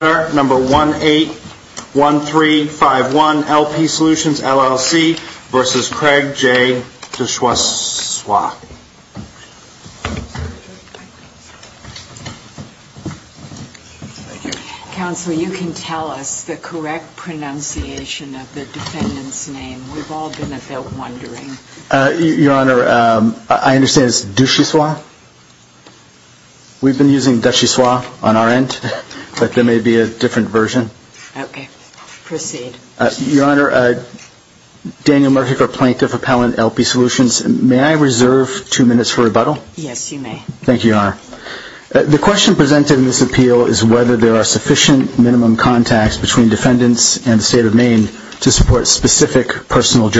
Number 181351, LP Solutions LLC v. Craig J. Duchossois. Counselor, you can tell us the correct pronunciation of the defendant's name. We've all been about wondering. Your Honor, I understand it's Duchossois. We've been using Duchossois on our end, but there may be a different version. Okay. Proceed. Your Honor, Daniel Murphy for Plaintiff Appellant, LP Solutions. May I reserve two minutes for rebuttal? Yes, you may. Thank you, Your Honor. The question presented in this appeal is whether there are sufficient minimum contacts between defendants and the State of Maine to support specific personal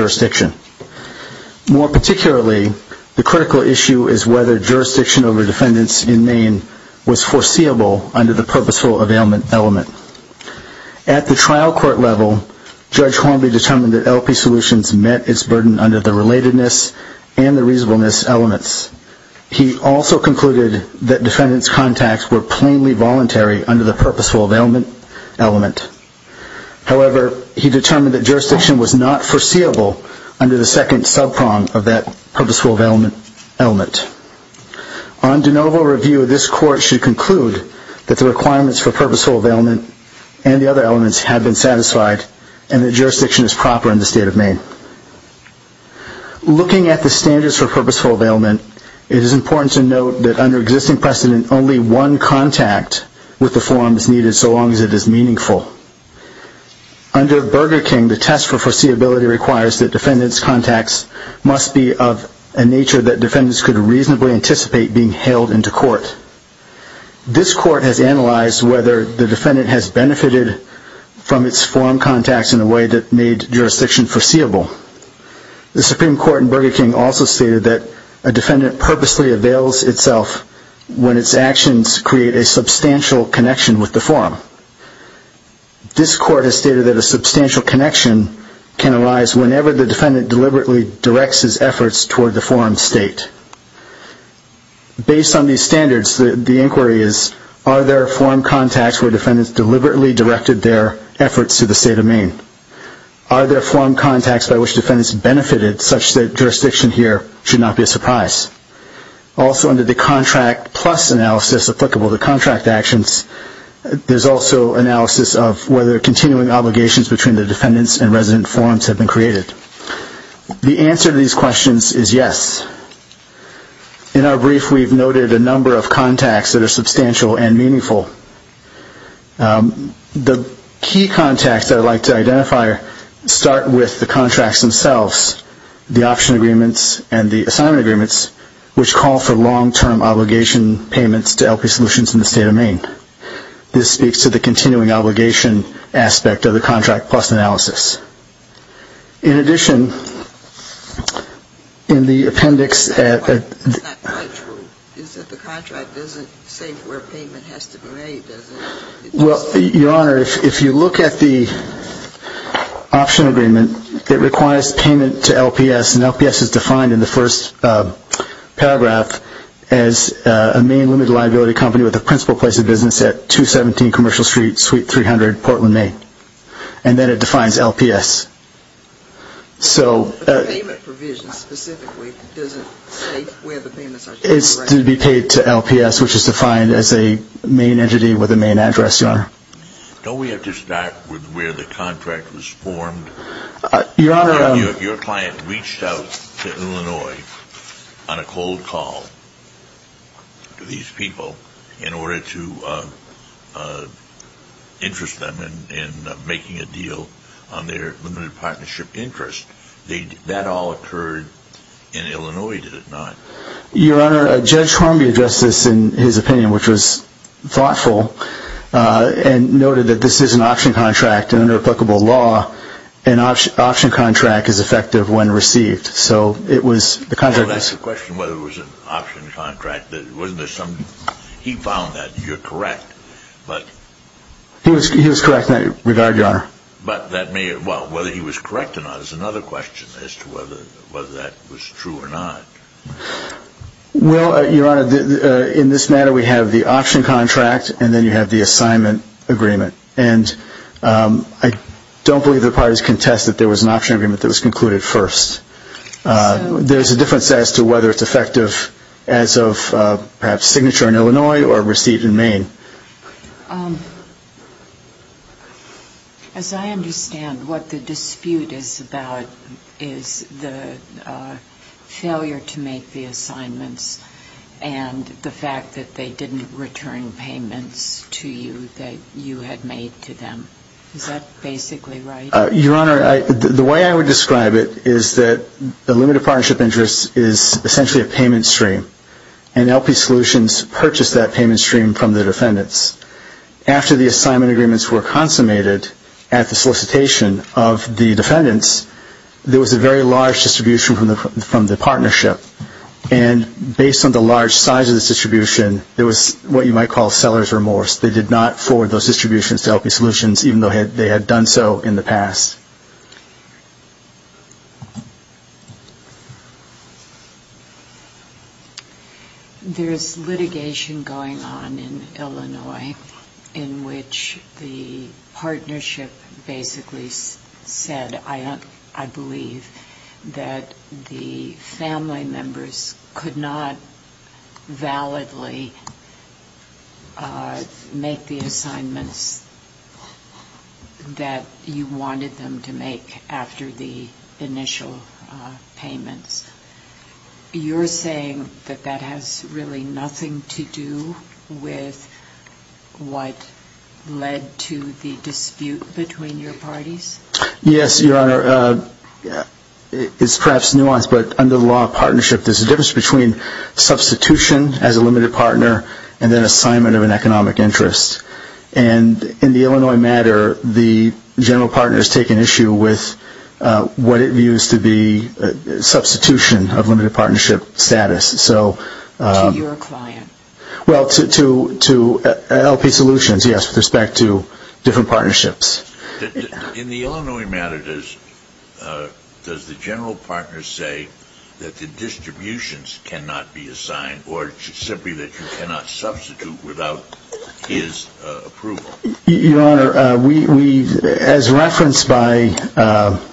More particularly, the critical issue is whether jurisdiction over defendants in Maine was foreseeable under the purposeful availment element. At the trial court level, Judge Hornby determined that LP Solutions met its burden under the relatedness and the reasonableness elements. He also concluded that defendants' contacts were plainly voluntary under the under the second subprong of that purposeful availment element. On de novo review, this court should conclude that the requirements for purposeful availment and the other elements have been satisfied and that jurisdiction is proper in the State of Maine. Looking at the standards for purposeful availment, it is important to note that under existing precedent, only one contact with the forum is needed so long as it is meaningful. Under Burger King, the test for foreseeability requires that defendants' contacts must be of a nature that defendants could reasonably anticipate being hailed into court. This court has analyzed whether the defendant has benefited from its forum contacts in a way that made jurisdiction foreseeable. The Supreme Court in Burger King also stated that a defendant purposely avails itself when its actions create a substantial connection with the forum. This court has stated that this substantial connection can arise whenever the defendant deliberately directs his efforts toward the forum state. Based on these standards, the inquiry is, are there forum contacts where defendants deliberately directed their efforts to the State of Maine? Are there forum contacts by which defendants benefited such that jurisdiction here should not be a surprise? Also under the contract plus analysis applicable to contract actions, there is also analysis of whether continuing obligations between the defendants and resident forums have been created. The answer to these questions is yes. In our brief, we have noted a number of contacts that are substantial and meaningful. The key contacts I would like to identify start with the contracts themselves, the option agreements and the State of Maine. This speaks to the continuing obligation aspect of the contract plus analysis. In addition, in the appendix at the... It's not quite true. It's that the contract doesn't say where payment has to be made, does it? Well, Your Honor, if you look at the option agreement, it requires payment to LPS, and 217 Commercial Street, Suite 300, Portland, Maine. And then it defines LPS. But the payment provision specifically doesn't state where the payment has to be made? It's to be paid to LPS, which is defined as a main entity with a main address, Your Honor. Don't we have to start with where the contract was formed? Your Honor... They reached out to Illinois on a cold call to these people in order to interest them in making a deal on their limited partnership interest. That all occurred in Illinois, did it not? Your Honor, Judge Hornby addressed this in his opinion, which was thoughtful, and noted that this is an option contract and under applicable law, an option contract is effective when received. Well, that's the question, whether it was an option contract. He found that. You're correct. He was correct in that regard, Your Honor. Whether he was correct or not is another question as to whether that was true or not. Well, Your Honor, in this matter we have the option contract and then you have the assignment agreement. And I don't believe the parties contest that there was an option agreement that was concluded first. There's a difference as to whether it's effective as of perhaps signature in Illinois or receipt in Maine. As I understand, what the dispute is about is the failure to make the assignments and the fact that they didn't return payments to you that you had made to them. Is that basically right? Your Honor, the way I would describe it is that the limited partnership interest is essentially a payment stream. And LP Solutions purchased that payment stream from the defendants. After the assignment agreements were consummated at the solicitation of the defendants, there was a very large distribution from the partnership. And based on the large size of this distribution, there was what you might call seller's remorse. They did not forward those distributions to LP Solutions even though they had done so in the past. There's litigation going on in Illinois in which the partnership basically said, I believe, that the family members could not validly make the assignments that you wanted them to make after the initial payments. You're saying that that has really nothing to do with what led to the dispute between your parties? Yes, Your Honor. It's perhaps nuanced, but under the law of partnership, there's a difference between substitution as a limited partner and then assignment of an economic interest. And in the Illinois matter, the general partner has taken issue with what it views to be substitution of limited partnership status. To your client? Well, to LP Solutions, yes, with respect to different partnerships. In the Illinois matter, does the general partner say that the distributions cannot be assigned or simply that you cannot substitute without his approval? Your Honor, as referenced by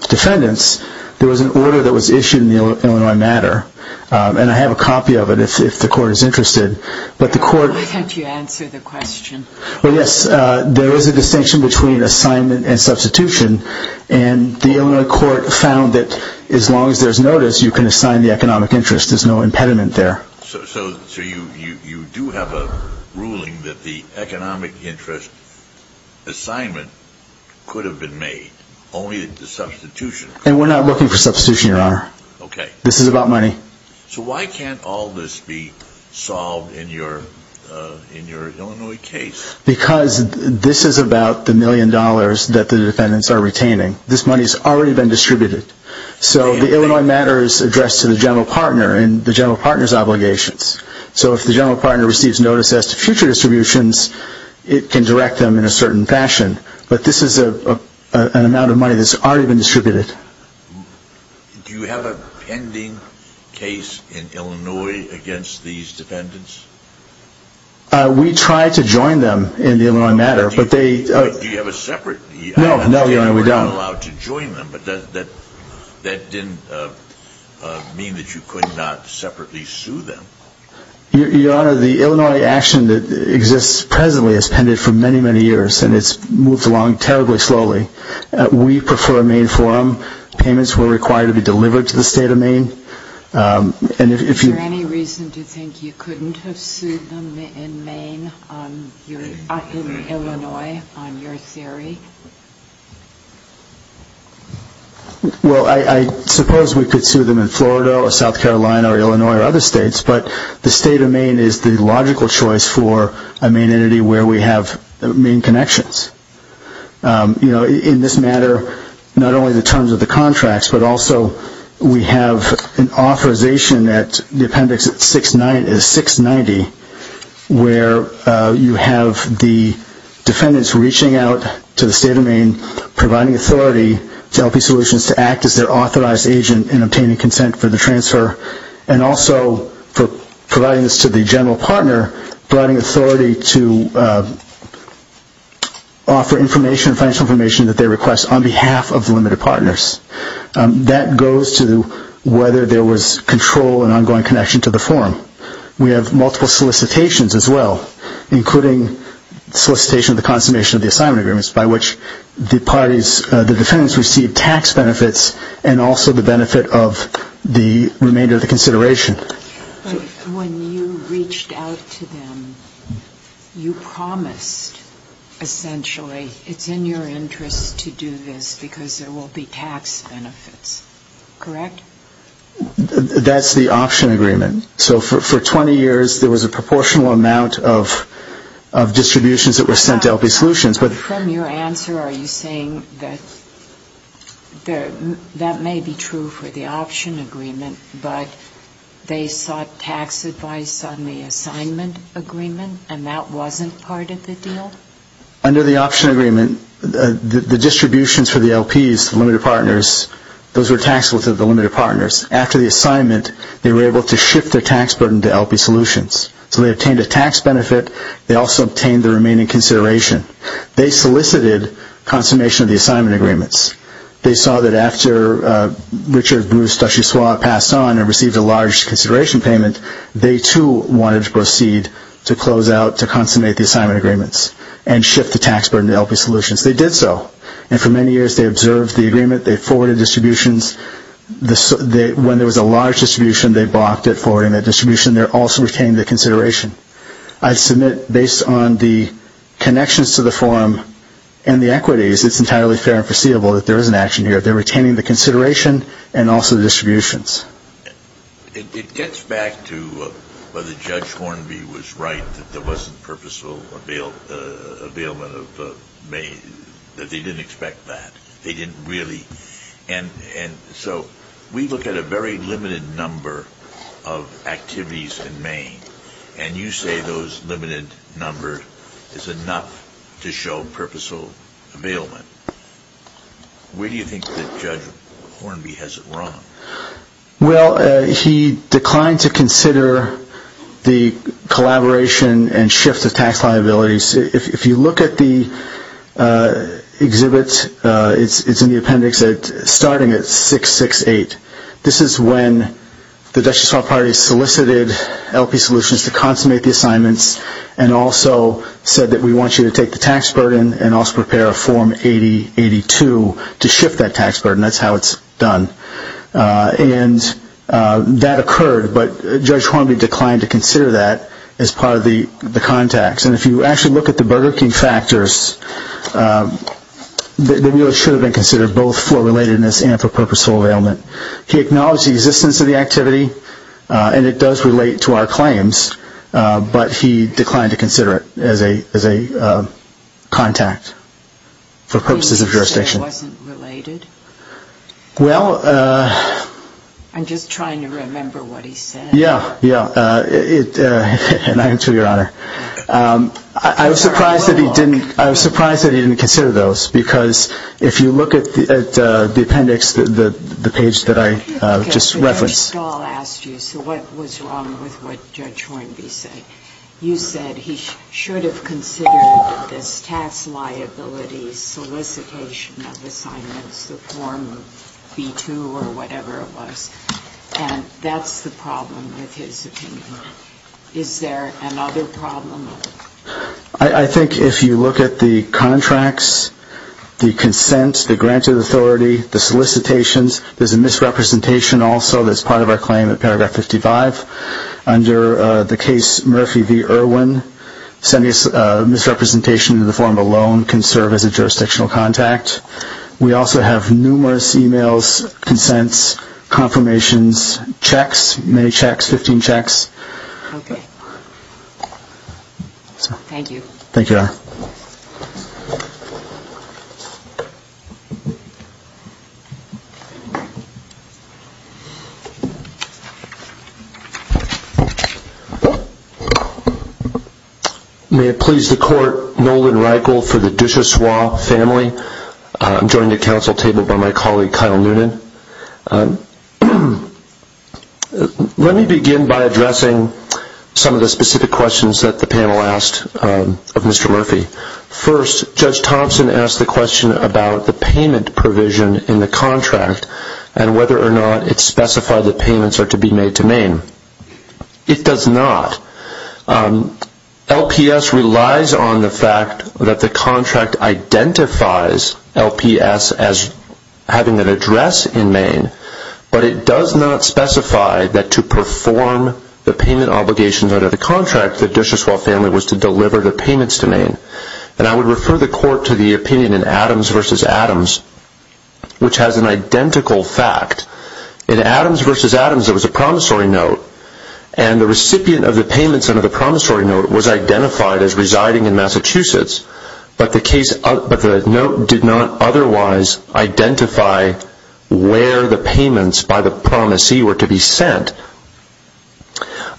defendants, there was an order that was issued in the Illinois matter, and I have a copy of it if the Court is interested. Why can't you answer the question? Well, yes, there is a distinction between assignment and substitution, and the Illinois Court found that as long as there's notice, you can assign the economic interest. There's no impediment there. So you do have a ruling that the economic interest assignment could have been made, only that the substitution... And we're not looking for substitution, Your Honor. Okay. This is about money. So why can't all this be solved in your Illinois case? Because this is about the million dollars that the defendants are retaining. This money's already been distributed. So the Illinois matter is addressed to the general partner and the general partner's obligations. So if the general partner receives notice as to future distributions, it can direct them in a certain fashion. But this is an amount of money that's already been distributed. Do you have a pending case in Illinois against these defendants? We tried to join them in the Illinois matter, but they... Do you have a separate... No, no, Your Honor, we don't. You're not allowed to join them, but that didn't mean that you could not separately sue them. Your Honor, the Illinois action that exists presently has pended for many, many years, and it's moved along terribly slowly. We prefer a Maine forum. Payments were required to be delivered to the State of Maine, and if you... Is there any reason to think you couldn't have sued them in Maine, in Illinois, on your theory? Well, I suppose we could sue them in Florida or South Carolina or Illinois or other states, but the State of Maine is the logical choice for a Maine entity where we have Maine connections. In this matter, not only the terms of the contracts, but also we have an authorization at the appendix 690 where you have the defendants reaching out to the State of Maine, providing authority to LP Solutions to act as their authorized agent in obtaining consent for the transfer, and also for providing this to the general partner, providing authority to offer information, financial information that they request on behalf of the limited partners. That goes to whether there was control and ongoing connection to the forum. We have multiple solicitations as well, including solicitation of the consummation of the assignment agreements by which the defendants receive tax benefits and also the benefit of the remainder of the consideration. When you reached out to them, you promised, essentially, it's in your interest to do this because there will be tax benefits, correct? That's the option agreement. So for 20 years, there was a proportional amount of distributions that were sent to LP Solutions. But from your answer, are you saying that that may be true for the option agreement, but they sought tax advice on the assignment agreement and that wasn't part of the deal? Under the option agreement, the distributions for the LPs, the limited partners, those were taxable to the limited partners. After the assignment, they were able to shift their tax burden to LP Solutions. So they obtained a tax benefit. They also obtained the remaining consideration. They solicited consummation of the assignment agreements. They saw that after Richard Bruce Dushyaswa passed on and received a large consideration payment, they too wanted to proceed to close out, to consummate the assignment agreements and shift the tax burden to LP Solutions. They did so. And for many years, they observed the agreement. They forwarded distributions. When there was a large distribution, they blocked it forwarding that distribution. They also retained the consideration. I submit, based on the connections to the forum and the equities, it's entirely fair and foreseeable that there is an action here. They're retaining the consideration and also the distributions. It gets back to whether Judge Hornby was right that there wasn't purposeful availment of Maine, that they didn't expect that. They didn't really. And you say those limited numbers is enough to show purposeful availment. Where do you think that Judge Hornby has it wrong? Well, he declined to consider the collaboration and shift of tax liabilities. If you look at the exhibits, it's in the appendix starting at 668. This is when the Dutchess Hall Party solicited LP Solutions to consummate the assignments and also said that we want you to take the tax burden and also prepare a form 8082 to shift that tax burden. That's how it's done. And that occurred, but Judge Hornby declined to consider that as part of the contacts. And if you actually look at the Burger King factors, the bill should have been considered both for relatedness and for purposeful availment. He acknowledged the existence of the activity, and it does relate to our claims, but he declined to consider it as a contact for purposes of jurisdiction. Did he say it wasn't related? Well... I'm just trying to remember what he said. Yeah, yeah. And I am too, Your Honor. I was surprised that he didn't consider those, because if you look at the appendix, the page that I just referenced... Mr. Stahl asked you, so what was wrong with what Judge Hornby said? You said he should have considered this tax liability solicitation of assignments, the form B-2 or whatever it was, and that's the problem with his opinion. Is there another problem? I think if you look at the contracts, the consent, the granted authority, the solicitations, there's a misrepresentation also that's part of our claim in paragraph 55. Under the case Murphy v. Irwin, sending a misrepresentation in the form of a loan can serve as a jurisdictional contact. We also have numerous e-mails, consents, confirmations, checks, many checks, 15 checks. Okay. Thank you. Thank you, Your Honor. May it please the Court, Nolan Reichel for the Duchossois family. I'm joined at council table by my colleague, Kyle Noonan. Let me begin by addressing some of the specific questions that the panel asked of Mr. Murphy. First, Judge Thompson asked the question about the payment provision in the contract and whether or not it specified that payments are to be made to Maine. It does not. LPS relies on the fact that the contract identifies LPS as having an address in Maine, but it does not specify that to perform the payment obligations under the contract, the Duchossois family was to deliver the payments to Maine. And I would refer the Court to the opinion in Adams v. Adams, which has an identical fact. In Adams v. Adams, there was a promissory note, and the recipient of the payments under the promissory note was identified as residing in Massachusetts, but the note did not otherwise identify where the payments by the promisee were to be sent.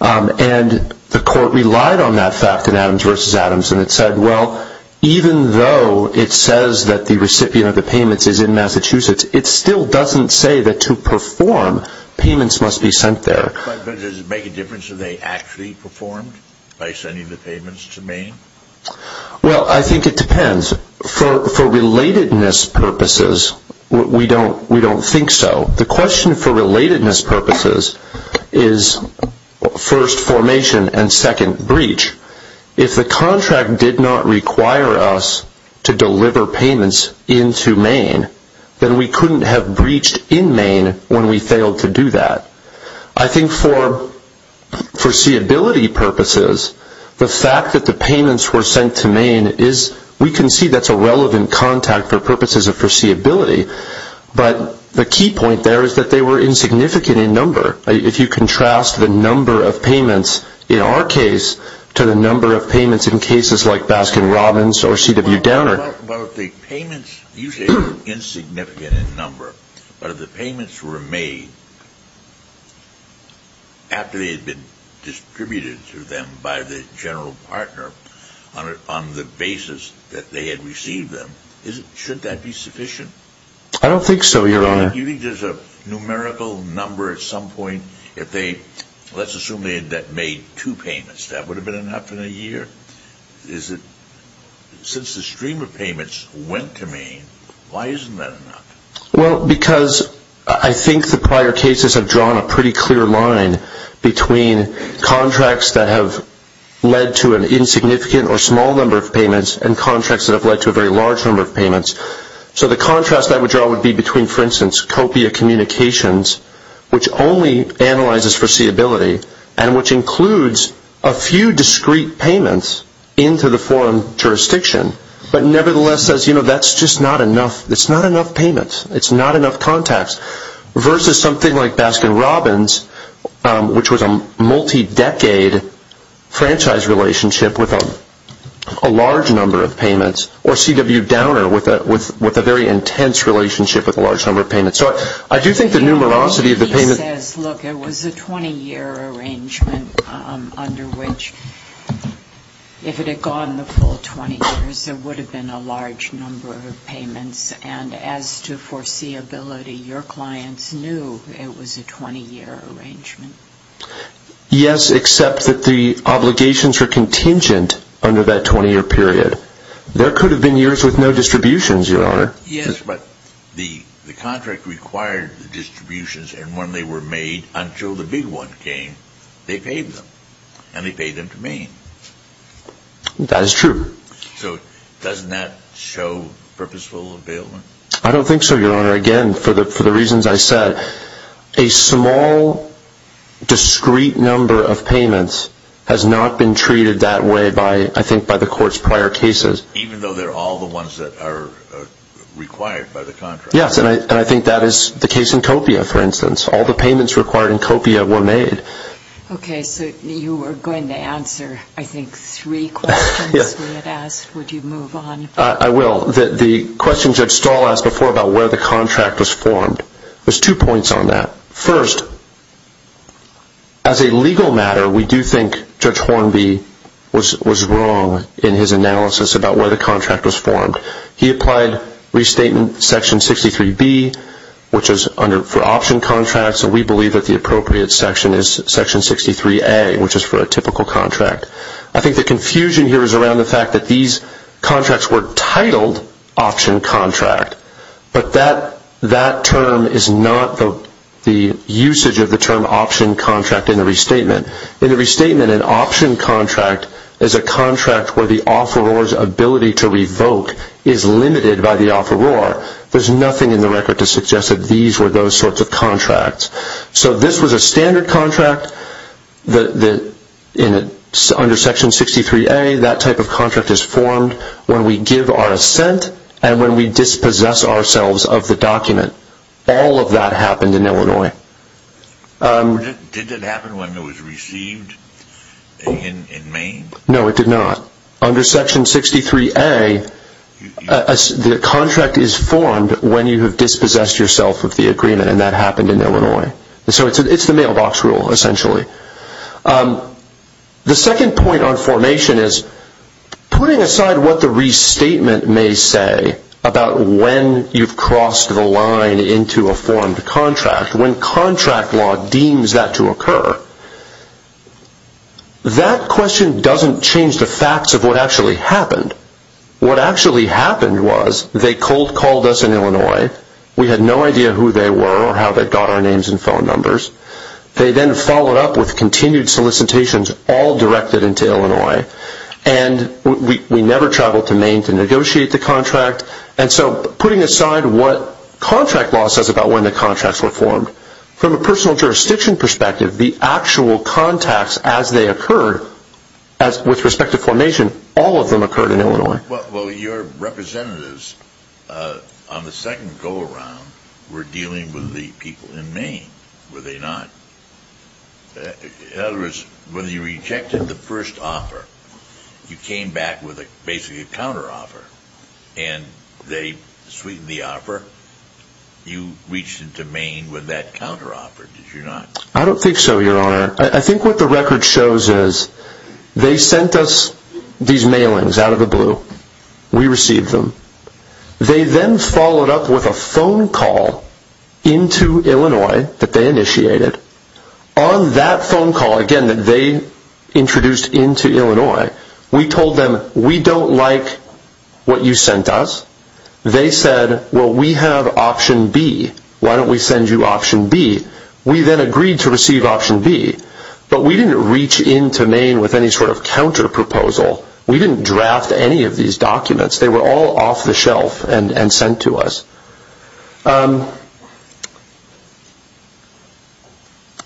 And the Court relied on that fact in Adams v. Adams, and it said, well, even though it says that the recipient of the payments is in Massachusetts, it still doesn't say that to perform, payments must be sent there. But does it make a difference if they actually performed by sending the payments to Maine? Well, I think it depends. For relatedness purposes, we don't think so. The question for relatedness purposes is first, formation, and second, breach. If the contract did not require us to deliver payments into Maine, then we couldn't have breached in Maine when we failed to do that. I think for foreseeability purposes, the fact that the payments were sent to Maine is, we can see that's a relevant contact for purposes of foreseeability, but the key point there is that they were insignificant in number. If you contrast the number of payments in our case to the number of payments in cases like Baskin-Robbins or C.W. Downer. Well, if the payments, usually insignificant in number, but if the payments were made after they had been distributed to them by the general partner on the basis that they had received them, shouldn't that be sufficient? I don't think so, Your Honor. You think there's a numerical number at some point, if they, let's assume they had made two payments, that would have been enough in a year? Since the stream of payments went to Maine, why isn't that enough? Well, because I think the prior cases have drawn a pretty clear line between contracts that have led to an insignificant or small number of payments and contracts that have led to a very large number of payments. So the contrast I would draw would be between, for instance, Copia Communications, which only analyzes foreseeability and which includes a few discrete payments into the foreign jurisdiction, but nevertheless says, you know, that's just not enough. It's not enough payments. It's not enough contacts, versus something like Baskin-Robbins, which was a multi-decade franchise relationship with a large number of payments, or C.W. Downer with a very intense relationship with a large number of payments. So I do think the numerosity of the payment. He says, look, it was a 20-year arrangement under which, if it had gone the full 20 years, there would have been a large number of payments. And as to foreseeability, your clients knew it was a 20-year arrangement. Yes, except that the obligations were contingent under that 20-year period. There could have been years with no distributions, Your Honor. Yes, but the contract required the distributions. And when they were made, until the big one came, they paid them. And they paid them to Maine. That is true. So doesn't that show purposeful availment? I don't think so, Your Honor. Again, for the reasons I said, a small, discrete number of payments has not been treated that way, I think, by the Court's prior cases. Even though they're all the ones that are required by the contract. Yes, and I think that is the case in Copia, for instance. All the payments required in Copia were made. Okay, so you were going to answer, I think, three questions we had asked. Would you move on? I will. The question Judge Stahl asked before about where the contract was formed, there's two points on that. First, as a legal matter, we do think Judge Hornby was wrong in his analysis about where the contract was formed. He applied restatement section 63B, which is for option contracts, and we believe that the appropriate section is section 63A, which is for a typical contract. I think the confusion here is around the fact that these contracts were titled option contract, but that term is not the usage of the term option contract in the restatement. In the restatement, an option contract is a contract where the offeror's ability to revoke is limited by the offeror. There's nothing in the record to suggest that these were those sorts of contracts. So this was a standard contract under section 63A. Generally, that type of contract is formed when we give our assent and when we dispossess ourselves of the document. All of that happened in Illinois. Did it happen when it was received in Maine? No, it did not. Under section 63A, the contract is formed when you have dispossessed yourself of the agreement, and that happened in Illinois. So it's the mailbox rule, essentially. The second point on formation is putting aside what the restatement may say about when you've crossed the line into a formed contract, when contract law deems that to occur, that question doesn't change the facts of what actually happened. What actually happened was they called us in Illinois. We had no idea who they were or how they got our names and phone numbers. They then followed up with continued solicitations all directed into Illinois, and we never traveled to Maine to negotiate the contract. And so putting aside what contract law says about when the contracts were formed, from a personal jurisdiction perspective, the actual contacts as they occurred, with respect to formation, all of them occurred in Illinois. Well, your representatives on the second go-around were dealing with the people in Maine, were they not? In other words, when you rejected the first offer, you came back with basically a counteroffer, and they sweetened the offer. You reached into Maine with that counteroffer, did you not? I don't think so, Your Honor. I think what the record shows is they sent us these mailings out of the blue. We received them. They then followed up with a phone call into Illinois that they initiated. On that phone call, again, that they introduced into Illinois, we told them we don't like what you sent us. They said, well, we have option B. Why don't we send you option B? We then agreed to receive option B, but we didn't reach into Maine with any sort of counterproposal. We didn't draft any of these documents. They were all off the shelf and sent to us.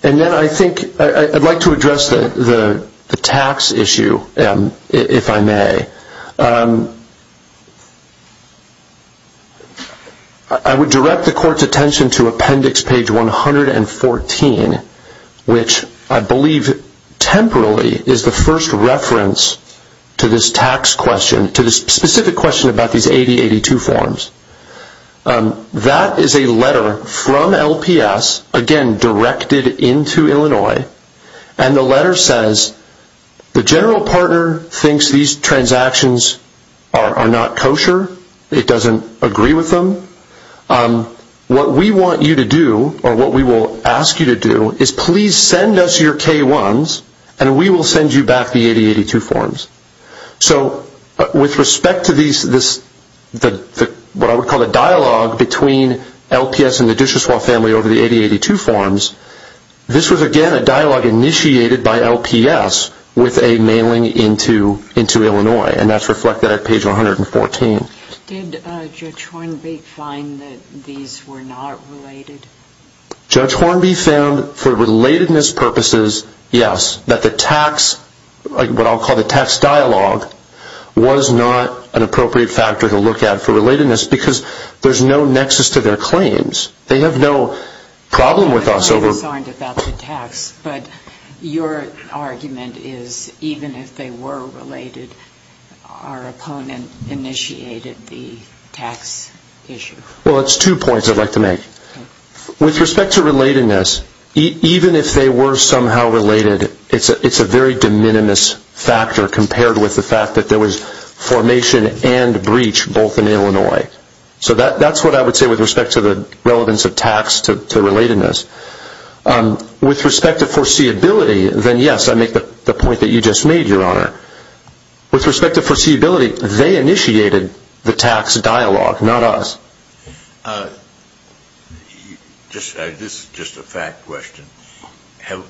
And then I think I'd like to address the tax issue, if I may. I would direct the Court's attention to appendix page 114, which I believe temporarily is the first reference to this tax question, to this specific question about these 8082 forms. That is a letter from LPS, again, directed into Illinois, and the letter says the general partner thinks these transactions are not kosher. It doesn't agree with them. What we want you to do, or what we will ask you to do, is please send us your K-1s, and we will send you back the 8082 forms. So with respect to what I would call a dialogue between LPS and the Duchossois family over the 8082 forms, this was, again, a dialogue initiated by LPS with a mailing into Illinois, and that's reflected at page 114. Did Judge Hornby find that these were not related? Judge Hornby found, for relatedness purposes, yes, that the tax dialogue was not an appropriate factor to look at for relatedness because there's no nexus to their claims. They have no problem with us. They're concerned about the tax, but your argument is even if they were related, our opponent initiated the tax issue. Well, it's two points I'd like to make. With respect to relatedness, even if they were somehow related, it's a very de minimis factor compared with the fact that there was formation and breach both in Illinois. So that's what I would say with respect to the relevance of tax to relatedness. With respect to foreseeability, then yes, I make the point that you just made, Your Honor. With respect to foreseeability, they initiated the tax dialogue, not us. This is just a fact question. Have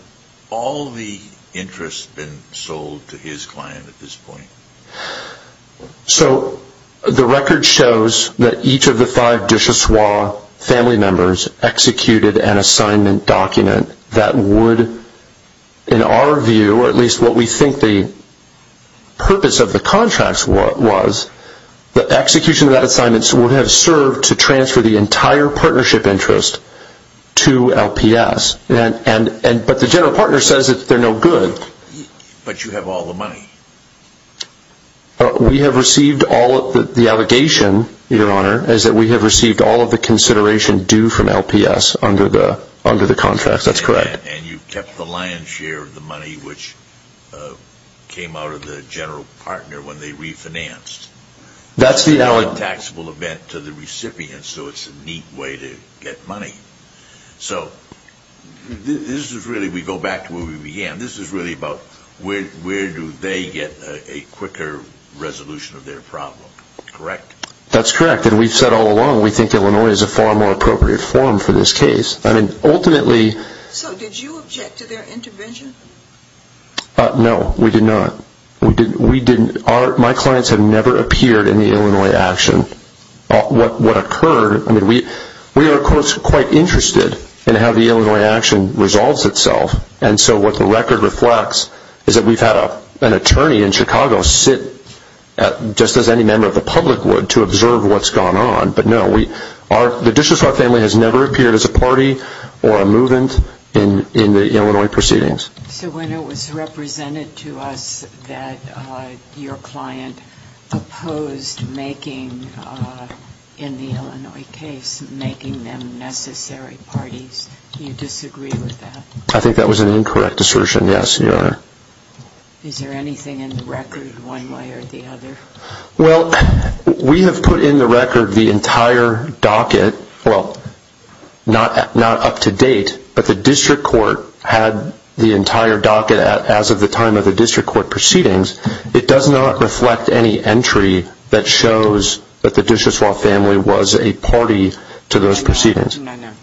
all the interests been sold to his client at this point? So the record shows that each of the five Dushaswa family members executed an assignment document that would, in our view, or at least what we think the purpose of the contracts was, the execution of that assignment would have served to transfer the entire partnership interest to LPS. But the general partner says that they're no good. But you have all the money. We have received all of the allegation, Your Honor, is that we have received all of the consideration due from LPS under the contracts. That's correct. And you kept the lion's share of the money which came out of the general partner when they refinanced. That's the alleged taxable event to the recipients, so it's a neat way to get money. So this is really, we go back to where we began. This is really about where do they get a quicker resolution of their problem, correct? That's correct. And we've said all along we think Illinois is a far more appropriate forum for this case. I mean, ultimately. So did you object to their intervention? No, we did not. We didn't. My clients have never appeared in the Illinois action. What occurred, I mean, we are, of course, quite interested in how the Illinois action resolves itself. And so what the record reflects is that we've had an attorney in Chicago sit, just as any member of the public would, to observe what's gone on. But, no, the Dishishaw family has never appeared as a party or a movement in the Illinois proceedings. So when it was represented to us that your client opposed making, in the Illinois case, making them necessary parties, do you disagree with that? I think that was an incorrect assertion, yes, Your Honor. Is there anything in the record one way or the other? Well, we have put in the record the entire docket, well, not up to date, but the district court had the entire docket as of the time of the district court proceedings. It does not reflect any entry that shows that the Dishishaw family was a party to those proceedings.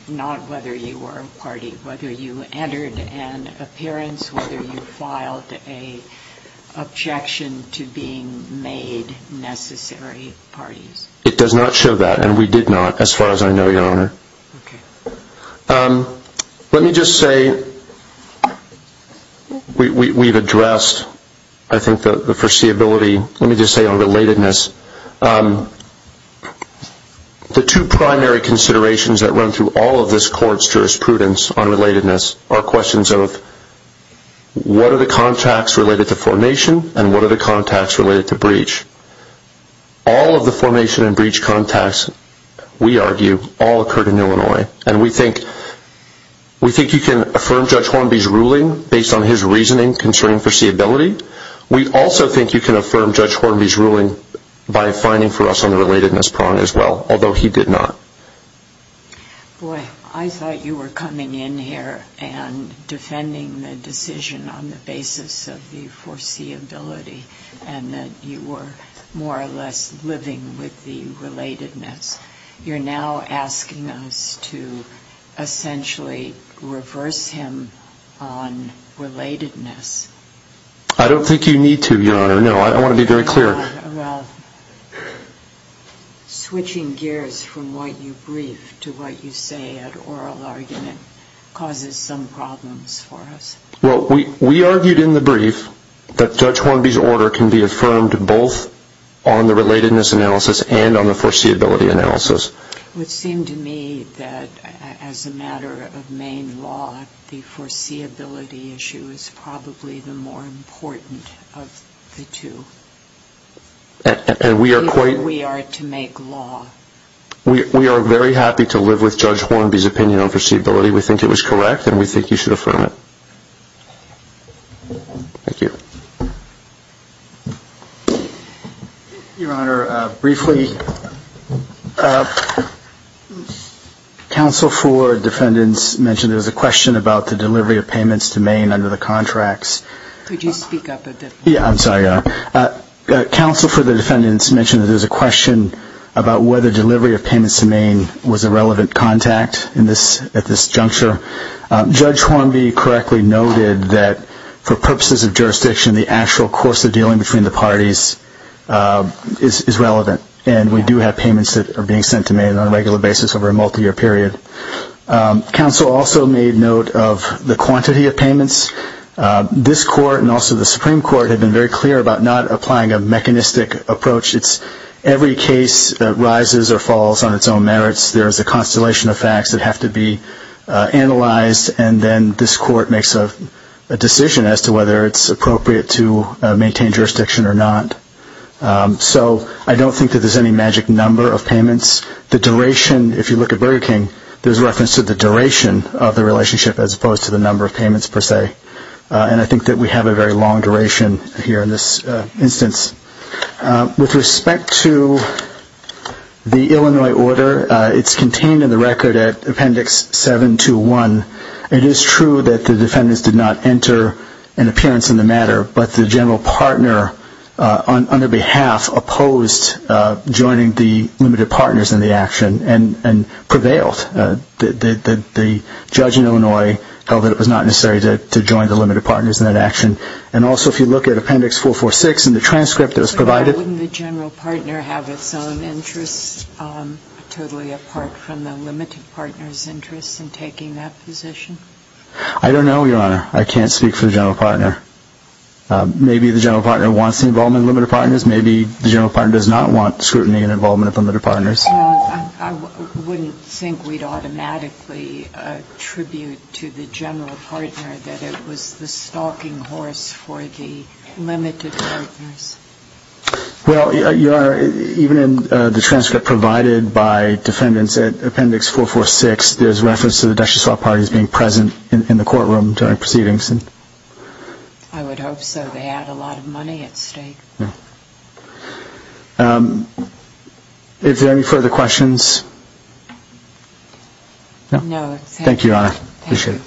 Not whether you were a party, whether you entered an appearance, whether you filed an objection to being made necessary parties. It does not show that, and we did not, as far as I know, Your Honor. Okay. Let me just say we've addressed, I think, the foreseeability. Let me just say on relatedness. The two primary considerations that run through all of this court's jurisprudence on relatedness are questions of what are the contacts related to formation and what are the contacts related to breach. All of the formation and breach contacts, we argue, all occurred in Illinois, and we think you can affirm Judge Hornby's ruling based on his reasoning concerning foreseeability. We also think you can affirm Judge Hornby's ruling by finding for us on the relatedness prong as well, although he did not. Boy, I thought you were coming in here and defending the decision on the basis of the foreseeability and that you were more or less living with the relatedness. You're now asking us to essentially reverse him on relatedness. I don't think you need to, Your Honor, no. I want to be very clear. Well, switching gears from what you briefed to what you say at oral argument causes some problems for us. Well, we argued in the brief that Judge Hornby's order can be affirmed both on the relatedness analysis and on the foreseeability analysis. It would seem to me that as a matter of Maine law, the foreseeability issue is probably the more important of the two, and we are to make law. We are very happy to live with Judge Hornby's opinion on foreseeability. We think it was correct, and we think you should affirm it. Thank you. Your Honor, briefly, counsel for defendants mentioned there was a question about the delivery of payments to Maine under the contracts. Could you speak up a bit? Yeah, I'm sorry, Your Honor. Counsel for the defendants mentioned that there was a question about whether delivery of payments to Maine was a relevant contact at this juncture. Judge Hornby correctly noted that for purposes of jurisdiction, the actual course of dealing between the parties is relevant, and we do have payments that are being sent to Maine on a regular basis over a multiyear period. Counsel also made note of the quantity of payments. This court and also the Supreme Court have been very clear about not applying a mechanistic approach. It's every case that rises or falls on its own merits. There is a constellation of facts that have to be analyzed, and then this court makes a decision as to whether it's appropriate to maintain jurisdiction or not. So I don't think that there's any magic number of payments. The duration, if you look at Burger King, there's reference to the duration of the relationship as opposed to the number of payments per se, and I think that we have a very long duration here in this instance. With respect to the Illinois order, it's contained in the record at Appendix 721. It is true that the defendants did not enter an appearance in the matter, but the general partner on their behalf opposed joining the limited partners in the action and prevailed. The judge in Illinois held that it was not necessary to join the limited partners in that action, and also if you look at Appendix 446 in the transcript that was provided. But why wouldn't the general partner have its own interests totally apart from the limited partners' interests in taking that position? I don't know, Your Honor. I can't speak for the general partner. Maybe the general partner wants the involvement of the limited partners. Maybe the general partner does not want scrutiny and involvement of the limited partners. Well, I wouldn't think we'd automatically attribute to the general partner that it was the stalking horse for the limited partners. Well, Your Honor, even in the transcript provided by defendants at Appendix 446, there's reference to the Dushyaswap parties being present in the courtroom during proceedings. I would hope so. They had a lot of money at stake. If there are any further questions? No. Thank you, Your Honor. Appreciate it.